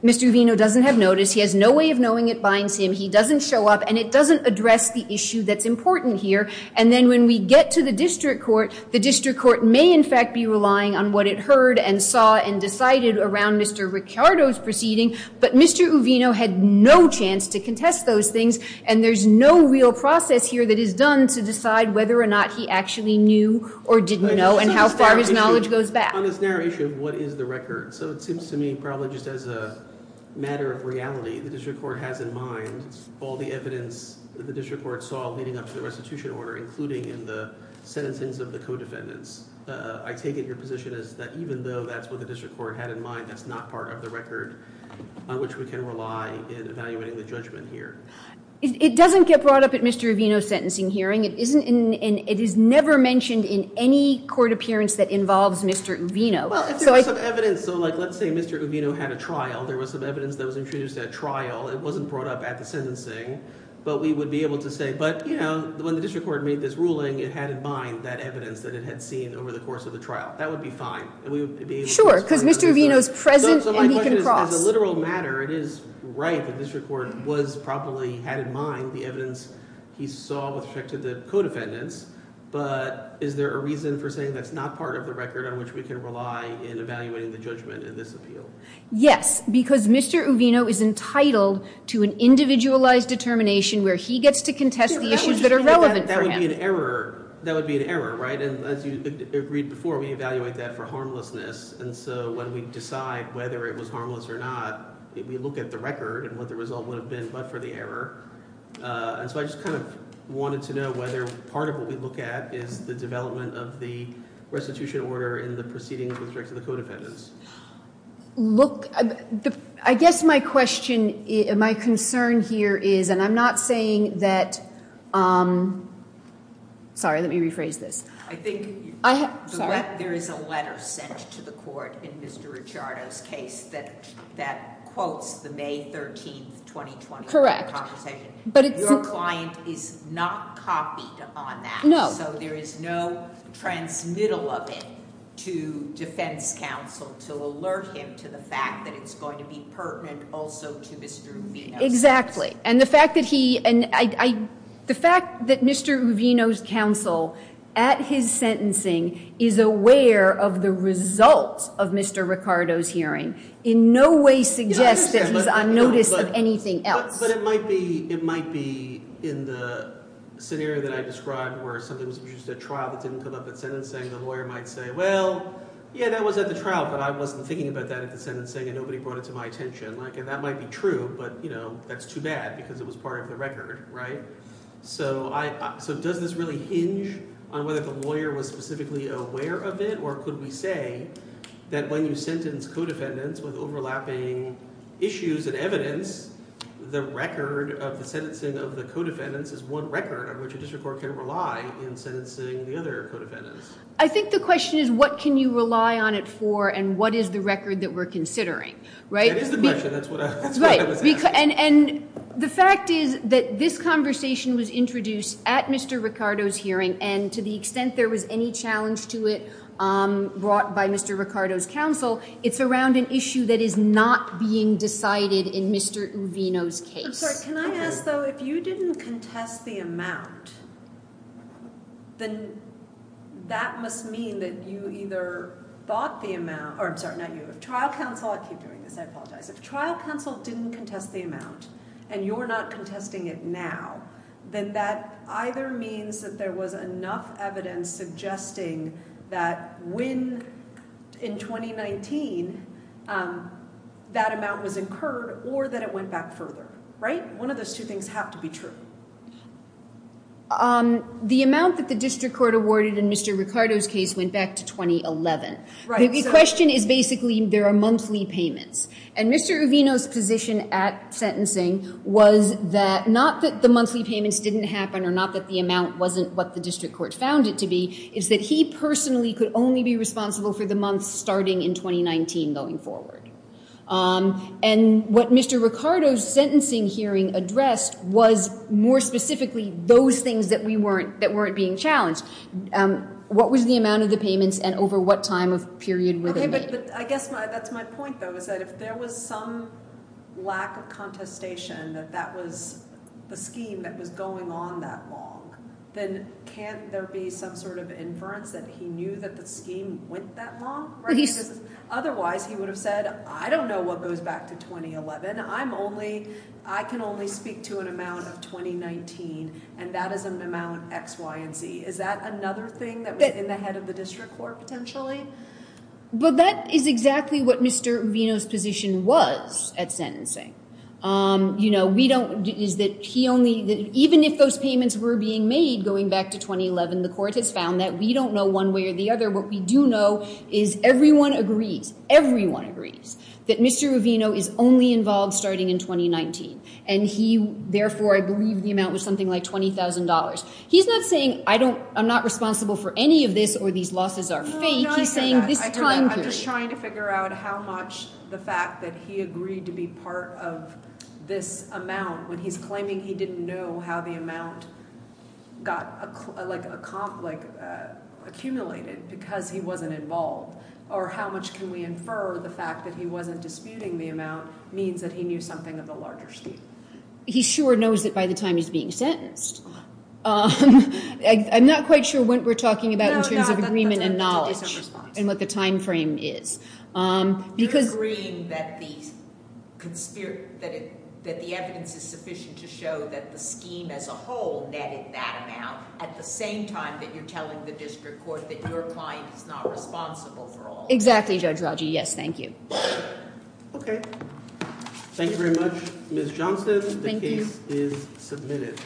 Mr. Uvino doesn't have notice. He has no way of knowing it binds him. He doesn't show up, and it doesn't address the issue that's important here. And then when we get to the district court, the district court may in fact be relying on what it heard and saw and decided around Mr. Ricciardo's proceeding, but Mr. Uvino had no chance to contest those things, and there's no real process here that is done to decide whether or not he actually knew or didn't know and how far his knowledge goes back. On this narrow issue of what is the record, so it seems to me probably just as a matter of reality, the district court has in mind all the evidence that the district court saw leading up to the restitution order, including in the sentencings of the co-defendants. I take it your position is that even though that's what the district court had in mind, that's not part of the record on which we can rely in evaluating the judgment here. It doesn't get brought up at Mr. Uvino's sentencing hearing. It is never mentioned in any court appearance that involves Mr. Uvino. Well, if there was some evidence, so like let's say Mr. Uvino had a trial. There was some evidence that was introduced at trial. It wasn't brought up at the sentencing, but we would be able to say, but, you know, when the district court made this ruling, it had in mind that evidence that it had seen over the course of the trial. That would be fine. Sure, because Mr. Uvino is present and he can cross. So my question is, as a literal matter, it is right that the district court was probably had in mind the evidence he saw with respect to the co-defendants, but is there a reason for saying that's not part of the record on which we can rely in evaluating the judgment in this appeal? Yes, because Mr. Uvino is entitled to an individualized determination where he gets to contest the issues that are relevant for him. That would be an error, right? And as you agreed before, we evaluate that for harmlessness. And so when we decide whether it was harmless or not, we look at the record and what the result would have been but for the error. And so I just kind of wanted to know whether part of what we look at is the development of the restitution order in the proceedings with respect to the co-defendants. Look, I guess my question, my concern here is, and I'm not saying that, sorry, let me rephrase this. I think there is a letter sent to the court in Mr. Ricciardo's case that quotes the May 13, 2020 court conversation. Your client is not copied on that. No. So there is no transmittal of it to defense counsel to alert him to the fact that it's going to be pertinent also to Mr. Uvino's case. Exactly. And the fact that Mr. Uvino's counsel at his sentencing is aware of the results of Mr. Ricciardo's hearing in no way suggests that he's on notice of anything else. But it might be in the scenario that I described where something was produced at trial that didn't come up at sentencing. The lawyer might say, well, yeah, that was at the trial, but I wasn't thinking about that at the sentencing and nobody brought it to my attention. And that might be true, but that's too bad because it was part of the record, right? So does this really hinge on whether the lawyer was specifically aware of it or could we say that when you sentence co-defendants with overlapping issues and evidence, the record of the sentencing of the co-defendants is one record on which a district court can rely in sentencing the other co-defendants? I think the question is what can you rely on it for and what is the record that we're considering, right? That is the question. That's what I was asking. And the fact is that this conversation was introduced at Mr. Ricciardo's hearing and to the extent there was any challenge to it brought by Mr. Ricciardo's counsel, it's around an issue that is not being decided in Mr. Uvino's case. Sorry, can I ask though, if you didn't contest the amount, then that must mean that you either thought the amount, or I'm sorry, not you, if trial counsel, I keep doing this, I apologize. If trial counsel didn't contest the amount and you're not contesting it now, then that either means that there was enough evidence suggesting that when in 2019 that amount was incurred or that it went back further, right? One of those two things have to be true. The amount that the district court awarded in Mr. Ricciardo's case went back to 2011. The question is basically there are monthly payments. And Mr. Uvino's position at sentencing was that not that the monthly payments didn't happen or not that the amount wasn't what the district court found it to be, it's that he personally could only be responsible for the months starting in 2019 going forward. And what Mr. Ricciardo's sentencing hearing addressed was more specifically those things that weren't being challenged. What was the amount of the payments and over what time of period were they made? I guess that's my point though, is that if there was some lack of contestation that that was the scheme that was going on that long, then can't there be some sort of inference that he knew that the scheme went that long? Otherwise he would have said, I don't know what goes back to 2011. I can only speak to an amount of 2019 and that is an amount of X, Y, and Z. Is that another thing that was in the head of the district court potentially? But that is exactly what Mr. Uvino's position was at sentencing. You know, we don't, is that he only, even if those payments were being made going back to 2011, the court has found that we don't know one way or the other. What we do know is everyone agrees, everyone agrees that Mr. Uvino is only involved starting in 2019. And he, therefore, I believe the amount was something like $20,000. He's not saying I don't, I'm not responsible for any of this or these losses are fake. He's saying this time period. I'm just trying to figure out how much the fact that he agreed to be part of this amount when he's claiming he didn't know how the amount got like accumulated because he wasn't involved. Or how much can we infer the fact that he wasn't disputing the amount means that he knew something of the larger scheme. He sure knows it by the time he's being sentenced. I'm not quite sure what we're talking about in terms of agreement and knowledge. And what the time frame is. You're agreeing that the evidence is sufficient to show that the scheme as a whole netted that amount at the same time that you're telling the district court that your client is not responsible for all of that. Exactly, Judge Rogge. Yes, thank you. Okay. Thank you very much, Ms. Johnson. Thank you. The case is submitted.